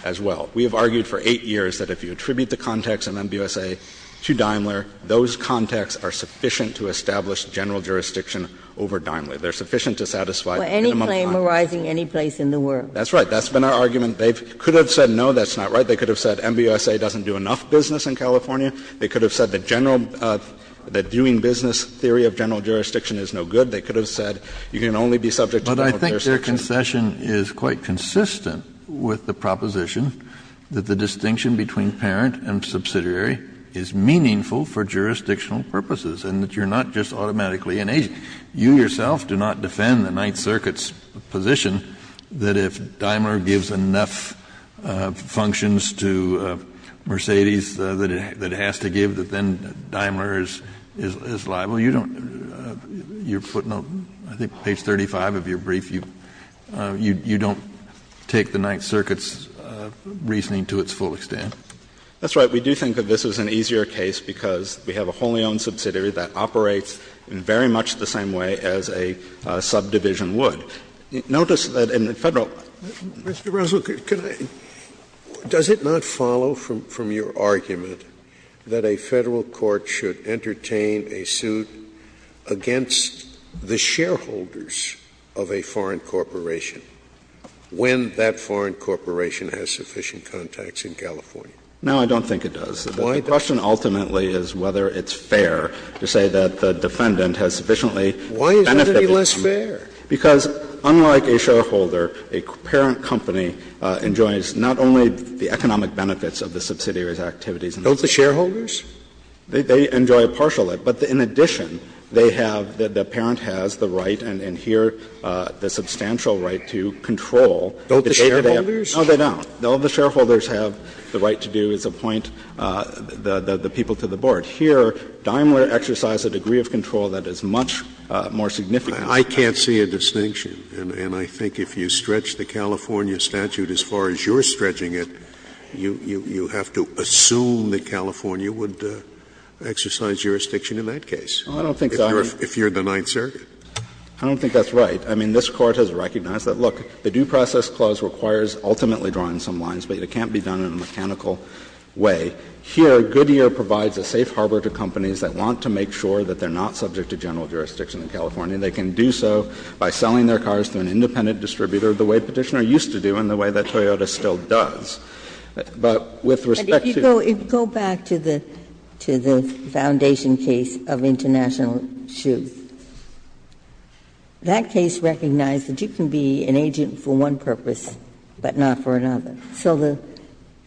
as well. We have argued for 8 years that if you attribute the contacts of MBUSA to Daimler, those contacts are sufficient to establish general jurisdiction over Daimler. They're sufficient to satisfy minimum contracts. Were any claim arising any place in the world? That's right. That's been our argument. They could have said, no, that's not right. They could have said MBUSA doesn't do enough business in California. They could have said that general, that viewing business theory of general jurisdiction is no good. They could have said you can only be subject to general jurisdiction. But I think their concession is quite consistent with the proposition that the distinction between parent and subsidiary is meaningful for jurisdictional purposes, and that you're not just automatically an agent. Kennedy, you yourself do not defend the Ninth Circuit's position that if Daimler gives enough functions to Mercedes that it has to give, that then Daimler is liable. You don't, your footnote, I think page 35 of your brief, you don't take the Ninth Circuit's reasoning to its full extent. That's right. We do think that this is an easier case because we have a wholly owned subsidiary that operates in very much the same way as a subdivision would. Notice that in the Federal law. Scalia, Mr. Russell, does it not follow from your argument that a Federal court should entertain a suit against the shareholders of a foreign corporation when that foreign corporation has sufficient contacts in California? No, I don't think it does. The question ultimately is whether it's fair to say that the defendant has sufficiently benefited from it. Why is it any less fair? Because unlike a shareholder, a parent company enjoys not only the economic benefits of the subsidiary's activities and services. Don't the shareholders? They enjoy a partial limit. But in addition, they have, the parent has the right and here the substantial right to control the data they have. Don't the shareholders? No, they don't. Don't the shareholders have the right to do is appoint the people to the board? Here, Daimler exercised a degree of control that is much more significant than that. Scalia, I can't see a distinction. And I think if you stretch the California statute as far as you're stretching it, you have to assume that California would exercise jurisdiction in that case. I don't think that's right. If you're the Ninth Circuit. I don't think that's right. I mean, this Court has recognized that, look, the Due Process Clause requires ultimately drawing some lines, but it can't be done in a mechanical way. Here, Goodyear provides a safe harbor to companies that want to make sure that they are not subject to general jurisdiction in California. They can do so by selling their cars to an independent distributor, the way Petitioner used to do and the way that Toyota still does. But with respect to the Ginsburg, if you go back to the foundation case of International Shoes, that case recognized that you can be an agent for one purpose, but not for another. So the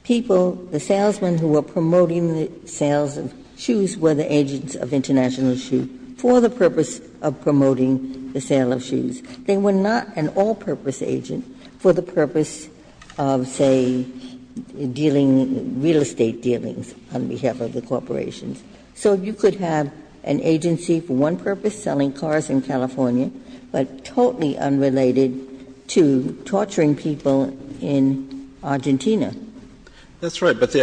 people, the salesmen who were promoting the sales of shoes were the agents of International Shoes for the purpose of promoting the sale of shoes. They were not an all-purpose agent for the purpose of, say, dealing real estate dealings on behalf of the corporations. So you could have an agency for one purpose, selling cars in California, but totally unrelated to torturing people in Argentina. That's right. But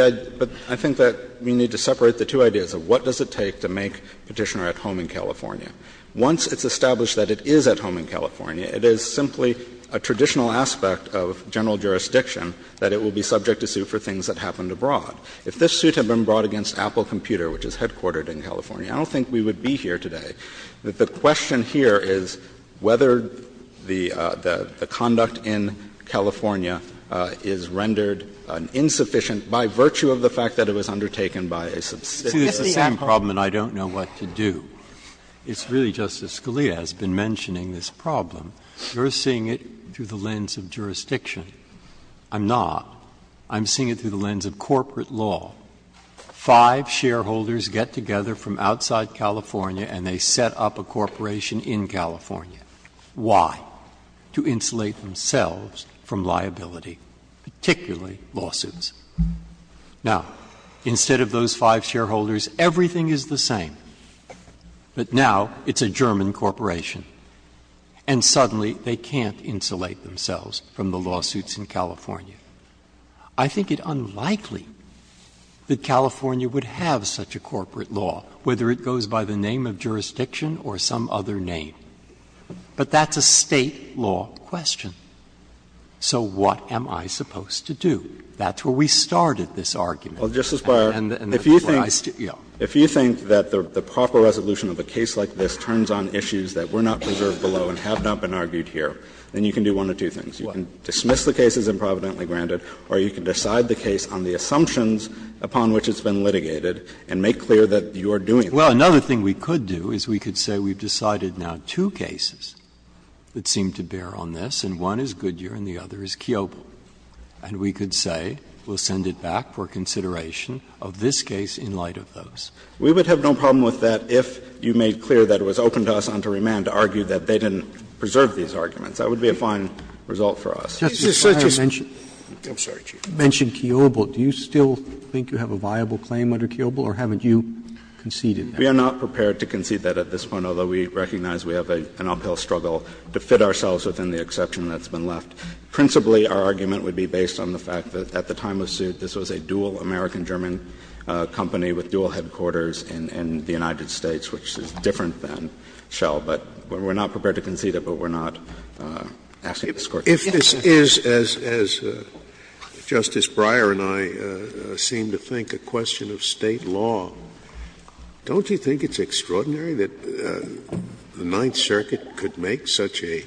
I think that we need to separate the two ideas of what does it take to make Petitioner at home in California. Once it's established that it is at home in California, it is simply a traditional aspect of general jurisdiction that it will be subject to suit for things that happened abroad. If this suit had been brought against Apple Computer, which is headquartered in California, I don't think we would be here today. The question here is whether the conduct in California is rendered insufficient by virtue of the fact that it was undertaken by a subsidiary. Breyer, this is the same problem, and I don't know what to do. It's really, Justice Scalia has been mentioning this problem. You're seeing it through the lens of jurisdiction. I'm not. I'm seeing it through the lens of corporate law. Five shareholders get together from outside California and they set up a corporation in California. Why? To insulate themselves from liability, particularly lawsuits. Now, instead of those five shareholders, everything is the same, but now it's a German corporation, and suddenly they can't insulate themselves from the lawsuits in California. I think it unlikely that California would have such a corporate law, whether it goes by the name of jurisdiction or some other name. But that's a State law question. So what am I supposed to do? That's where we started this argument. And that's where I started. Yeah. If you think that the proper resolution of a case like this turns on issues that were not preserved below and have not been argued here, then you can do one of two things. You can dismiss the case as improvidently granted, or you can decide the case on the assumptions upon which it's been litigated and make clear that you're doing that. Well, another thing we could do is we could say we've decided now two cases that seem to bear on this, and one is Goodyear and the other is Kiobel. And we could say we'll send it back for consideration of this case in light of those. We would have no problem with that if you made clear that it was open to us on to remand to argue that they didn't preserve these arguments. That would be a fine result for us. Roberts I'm sorry, Chief. Roberts You mentioned Kiobel. Do you still think you have a viable claim under Kiobel, or haven't you conceded that? We are not prepared to concede that at this point, although we recognize we have an uphill struggle to fit ourselves within the exception that's been left. Principally, our argument would be based on the fact that at the time of suit this was a dual American-German company with dual headquarters in the United States, which is different than Shell. But we're not prepared to concede it, but we're not asking for it. Scalia If this is, as Justice Breyer and I seem to think, a question of State law, don't you think it's extraordinary that the Ninth Circuit could make such a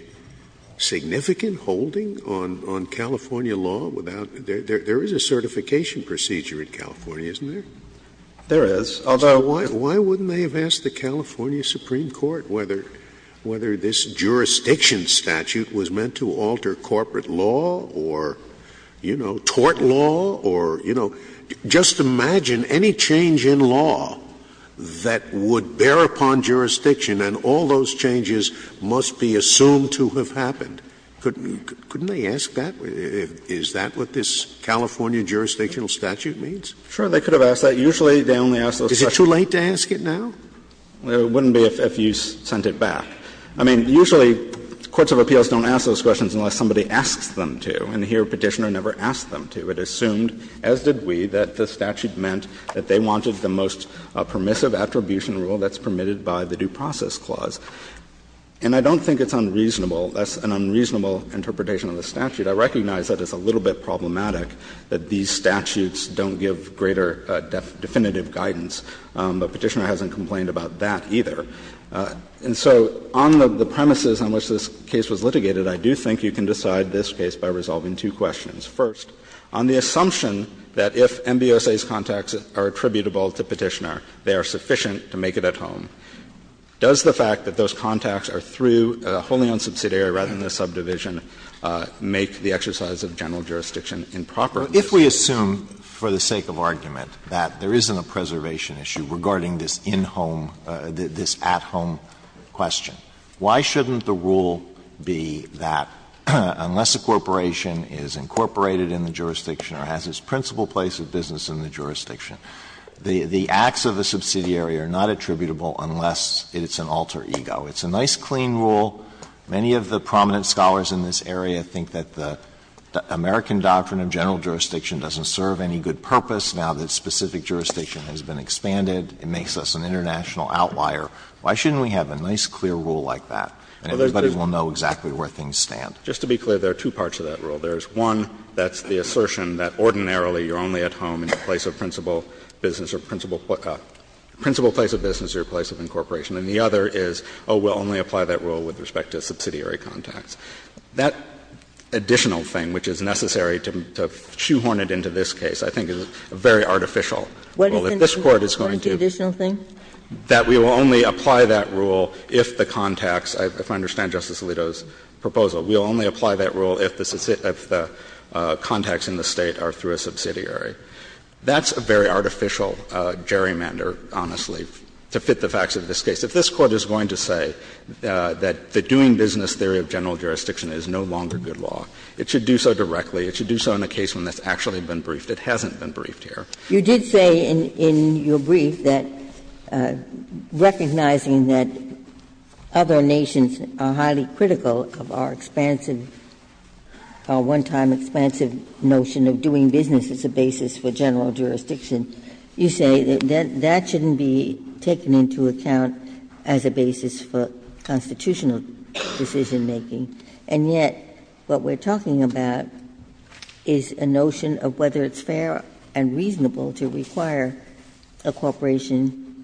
significant holding on California law without — there is a certification procedure in California, isn't there? Roberts There is. Although — Scalia Why wouldn't they have asked the California Supreme Court whether this jurisdiction statute was meant to alter corporate law or, you know, tort law or, you know, just imagine any change in law that would bear upon jurisdiction and all those changes must be assumed to have happened. Couldn't they ask that? Is that what this California jurisdictional statute means? Roberts Sure, they could have asked that. Usually, they only ask those questions. Scalia Is it too late to ask it now? Roberts It wouldn't be if you sent it back. I mean, usually courts of appeals don't ask those questions unless somebody asks them to, and here Petitioner never asked them to. It assumed, as did we, that the statute meant that they wanted the most permissive attribution rule that's permitted by the Due Process Clause. And I don't think it's unreasonable. That's an unreasonable interpretation of the statute. I recognize that it's a little bit problematic that these statutes don't give greater definitive guidance, but Petitioner hasn't complained about that either. And so on the premises on which this case was litigated, I do think you can decide this case by resolving two questions. First, on the assumption that if MBOSA's contacts are attributable to Petitioner, they are sufficient to make it at home, does the fact that those contacts are through a wholly owned subsidiary rather than a subdivision make the exercise of general jurisdiction improper? Alito, if we assume, for the sake of argument, that there isn't a preservation issue regarding this in-home, this at-home question, why shouldn't the rule be that unless a corporation is incorporated in the jurisdiction or has its principal place of business in the jurisdiction, the acts of a subsidiary are not attributable unless it's an alter ego. It's a nice, clean rule. Many of the prominent scholars in this area think that the American doctrine of general jurisdiction doesn't serve any good purpose now that specific jurisdiction has been expanded, it makes us an international outlier. Why shouldn't we have a nice, clear rule like that, and everybody will know exactly where things stand? Just to be clear, there are two parts to that rule. There is one that's the assertion that ordinarily you're only at home in the place of principal business or principal place of business or your place of incorporation. And the other is, oh, we'll only apply that rule with respect to subsidiary contacts. That additional thing which is necessary to shoehorn it into this case I think is very artificial. If this Court is going to do that, we will only apply that rule if the contacts of the, if I understand Justice Alito's proposal, we will only apply that rule if the contacts in the State are through a subsidiary. That's a very artificial gerrymander, honestly, to fit the facts of this case. If this Court is going to say that the doing business theory of general jurisdiction is no longer good law, it should do so directly. It should do so in a case when that's actually been briefed. It hasn't been briefed here. Ginsburg. You did say in your brief that recognizing that other nations are highly critical of our expansive, our one-time expansive notion of doing business as a basis for general jurisdiction is not going to account as a basis for constitutional decision-making. And yet, what we're talking about is a notion of whether it's fair and reasonable to require a corporation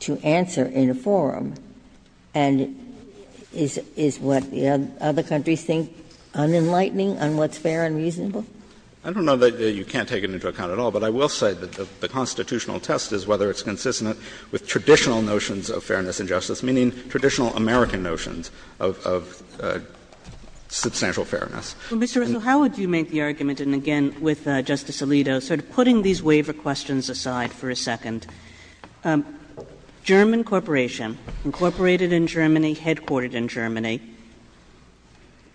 to answer in a forum. And is what the other countries think unenlightening on what's fair and reasonable? I don't know that you can't take it into account at all, but I will say that the constitutional test is whether it's consistent with traditional notions of fairness and justice, meaning traditional American notions of substantial fairness. Kagan. Well, Mr. Russell, how would you make the argument, and again, with Justice Alito, sort of putting these waiver questions aside for a second? German Corporation, incorporated in Germany, headquartered in Germany,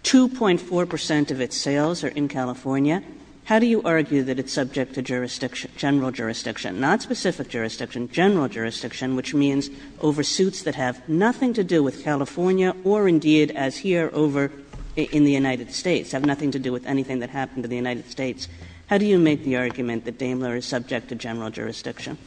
2.4 percent of its sales are in California. How do you argue that it's subject to jurisdiction, general jurisdiction, not specific jurisdiction, general jurisdiction, which means oversuits that have nothing to do with California or, indeed, as here, over in the United States, have nothing to do with anything that happened in the United States? How do you make the argument that Daimler is subject to general jurisdiction?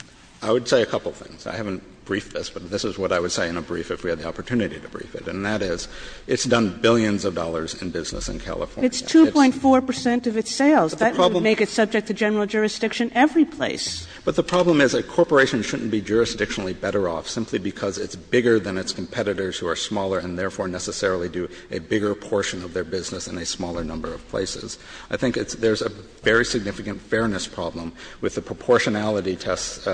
I would say a couple of things. I haven't briefed this, but this is what I would say in a brief if we had the opportunity to brief it, and that is it's done billions of dollars in business in California. It's 2.4 percent of its sales. That would make it subject to general jurisdiction every place. But the problem is a corporation shouldn't be jurisdictionally better off simply because it's bigger than its competitors who are smaller and therefore necessarily do a bigger portion of their business in a smaller number of places. I think there's a very significant fairness problem with the proportionality test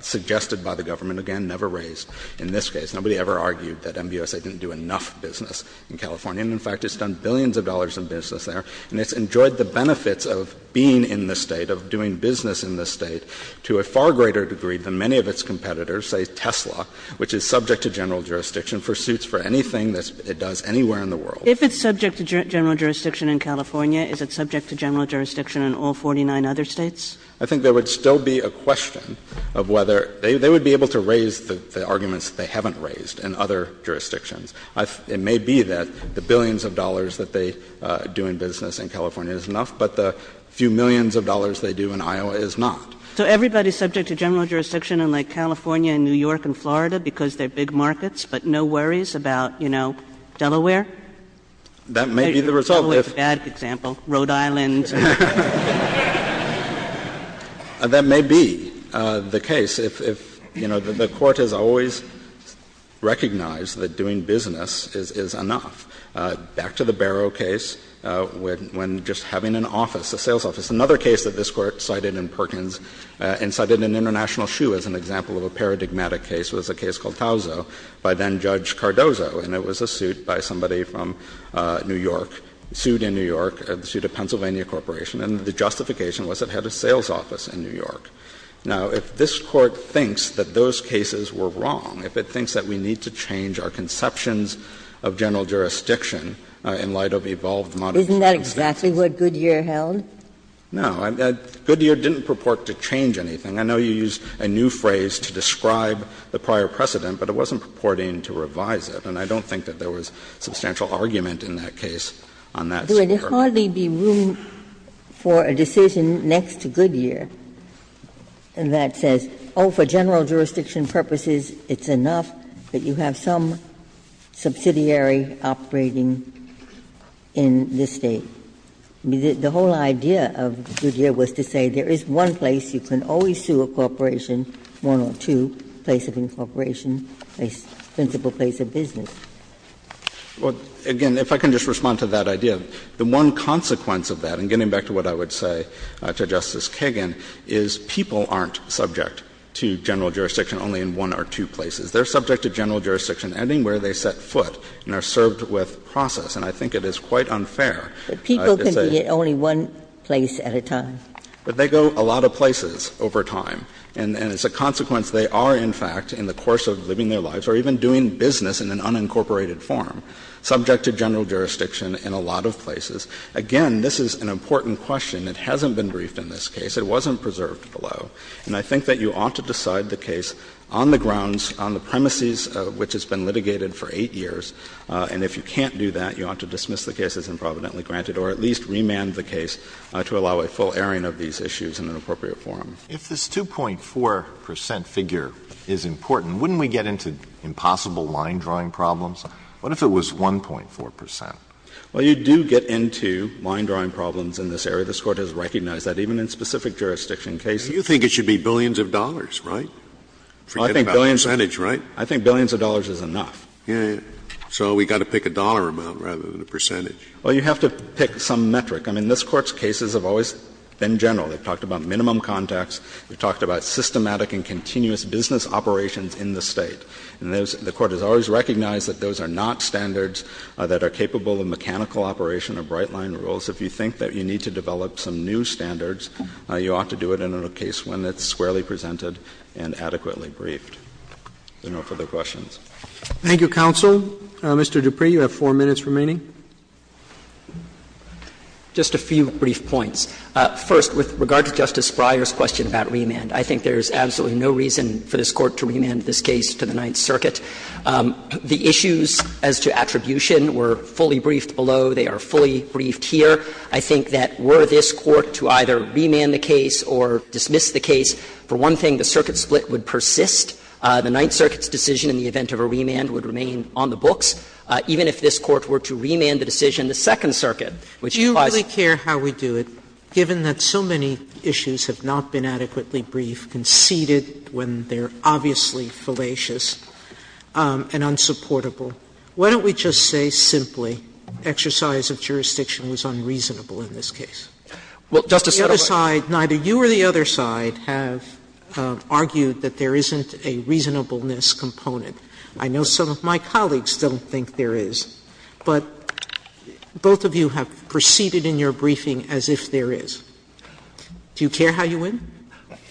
suggested by the government, again, never raised in this case. Nobody ever argued that MBUSA didn't do enough business in California. And, in fact, it's done billions of dollars in business there, and it's enjoyed the benefits of being in this State, of doing business in this State, to a far greater degree than many of its competitors, say Tesla, which is subject to general jurisdiction for suits for anything that it does anywhere in the world. If it's subject to general jurisdiction in California, is it subject to general jurisdiction in all 49 other States? I think there would still be a question of whether they would be able to raise the arguments that they haven't raised in other jurisdictions. It may be that the billions of dollars that they do in business in California is enough, but the few millions of dollars they do in Iowa is not. So everybody is subject to general jurisdiction in, like, California and New York and Florida, because they're big markets, but no worries about, you know, Delaware? That may be the result, if the case, if, you know, the Court has always recognized that doing business is enough. Back to the Barrow case, when just having an office, a sales office. Another case that this Court cited in Perkins and cited in International Shoe as an example of a paradigmatic case was a case called Tauzo by then-Judge Cardozo. And it was a suit by somebody from New York, sued in New York, sued a Pennsylvania corporation, and the justification was it had a sales office in New York. Now, if this Court thinks that those cases were wrong, if it thinks that we need to change our conceptions of general jurisdiction in light of evolved models of jurisdiction of the state. Ginsburg. Isn't that exactly what Goodyear held? No. Goodyear didn't purport to change anything. I know you used a new phrase to describe the prior precedent, but it wasn't purporting to revise it. And I don't think that there was substantial argument in that case on that. There would hardly be room for a decision next to Goodyear that says, oh, for general jurisdiction, we have to have some subsidiary operating in this State. The whole idea of Goodyear was to say there is one place you can always sue a corporation, one or two, a place of incorporation, a principal place of business. Well, again, if I can just respond to that idea, the one consequence of that, and getting back to what I would say to Justice Kagan, is people aren't subject to general jurisdiction only in one or two places. They are subject to general jurisdiction anywhere they set foot and are served with process. And I think it is quite unfair to say that. But people can be in only one place at a time. But they go a lot of places over time. And as a consequence, they are, in fact, in the course of living their lives or even doing business in an unincorporated form, subject to general jurisdiction in a lot of places. Again, this is an important question. It hasn't been briefed in this case. It wasn't preserved below. And I think that you ought to decide the case on the grounds, on the premises of which it's been litigated for 8 years. And if you can't do that, you ought to dismiss the case as improvidently granted or at least remand the case to allow a full airing of these issues in an appropriate forum. If this 2.4 percent figure is important, wouldn't we get into impossible line-drawing problems? What if it was 1.4 percent? Well, you do get into line-drawing problems in this area. This Court has recognized that. Even in specific jurisdiction cases. Scalia, you think it should be billions of dollars, right? Forget about the percentage, right? I think billions of dollars is enough. So we've got to pick a dollar amount rather than a percentage. Well, you have to pick some metric. I mean, this Court's cases have always been general. They've talked about minimum contacts. They've talked about systematic and continuous business operations in the State. And the Court has always recognized that those are not standards that are capable of mechanical operation or bright-line rules. If you think that you need to develop some new standards, you ought to do it in a case when it's squarely presented and adequately briefed. If there are no further questions. Roberts. Thank you, counsel. Mr. Dupree, you have four minutes remaining. Just a few brief points. First, with regard to Justice Breyer's question about remand, I think there is absolutely no reason for this Court to remand this case to the Ninth Circuit. The issues as to attribution were fully briefed below. They are fully briefed here. I think that were this Court to either remand the case or dismiss the case, for one thing, the circuit split would persist. The Ninth Circuit's decision in the event of a remand would remain on the books, even if this Court were to remand the decision in the Second Circuit, which implies that. Sotomayor, given that so many issues have not been adequately briefed, conceded when they are obviously fallacious and unsupportable, why don't we just say simply that the exercise of jurisdiction was unreasonable in this case? Well, Justice Sotomayor. Neither you or the other side have argued that there isn't a reasonableness component. I know some of my colleagues don't think there is, but both of you have proceeded in your briefing as if there is. Do you care how you win?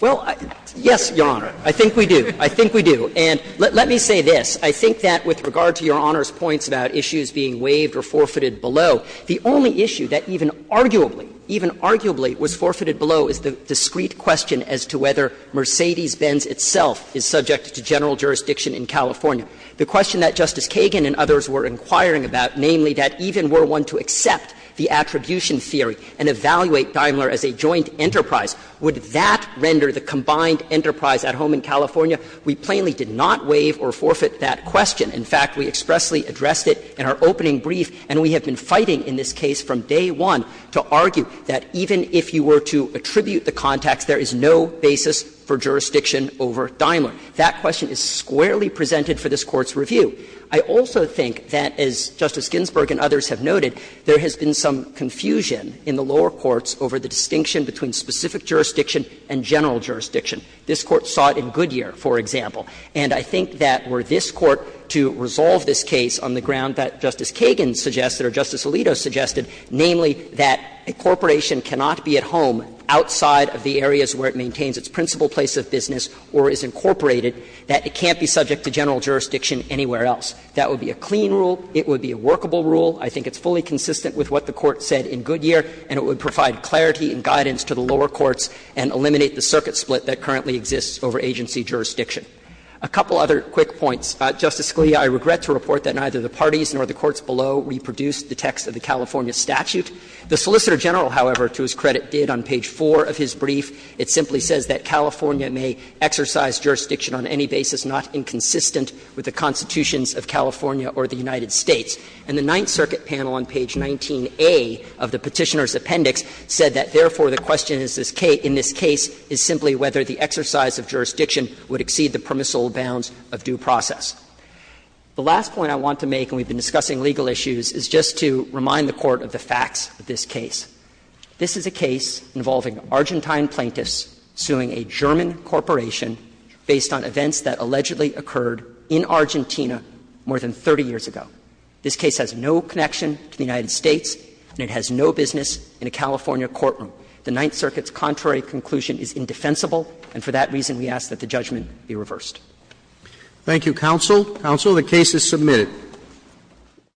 Well, yes, Your Honor. I think we do. I think we do. And let me say this. I think that with regard to Your Honor's points about issues being waived or forfeited below, the only issue that even arguably, even arguably was forfeited below is the discrete question as to whether Mercedes-Benz itself is subject to general jurisdiction in California. The question that Justice Kagan and others were inquiring about, namely, that even were one to accept the attribution theory and evaluate Daimler as a joint enterprise, would that render the combined enterprise at home in California? We plainly did not waive or forfeit that question. In fact, we expressly addressed it in our opening brief, and we have been fighting in this case from day one to argue that even if you were to attribute the context, there is no basis for jurisdiction over Daimler. That question is squarely presented for this Court's review. I also think that, as Justice Ginsburg and others have noted, there has been some confusion in the lower courts over the distinction between specific jurisdiction and general jurisdiction. This Court saw it in Goodyear, for example, and I think that were this Court to resolve this case on the ground that Justice Kagan suggested or Justice Alito suggested, namely, that a corporation cannot be at home outside of the areas where it maintains its principal place of business or is incorporated, that it can't be subject to general jurisdiction anywhere else. That would be a clean rule. It would be a workable rule. I think it's fully consistent with what the Court said in Goodyear, and it would provide clarity and guidance to the lower courts and eliminate the circuit split that currently exists over agency jurisdiction. A couple other quick points. Justice Scalia, I regret to report that neither the parties nor the courts below reproduced the text of the California statute. The Solicitor General, however, to his credit, did on page 4 of his brief. It simply says that California may exercise jurisdiction on any basis not inconsistent with the constitutions of California or the United States. And the Ninth Circuit panel on page 19A of the Petitioner's Appendix said that, therefore, the question in this case is simply whether the exercise of jurisdiction would exceed the permissible bounds of due process. The last point I want to make, and we've been discussing legal issues, is just to remind the Court of the facts of this case. This is a case involving Argentine plaintiffs suing a German corporation based on events that allegedly occurred in Argentina more than 30 years ago. This case has no connection to the United States, and it has no business in a California courtroom. The Ninth Circuit's contrary conclusion is indefensible, and for that reason we ask that the judgment be reversed. Roberts. Thank you, counsel. Counsel, the case is submitted.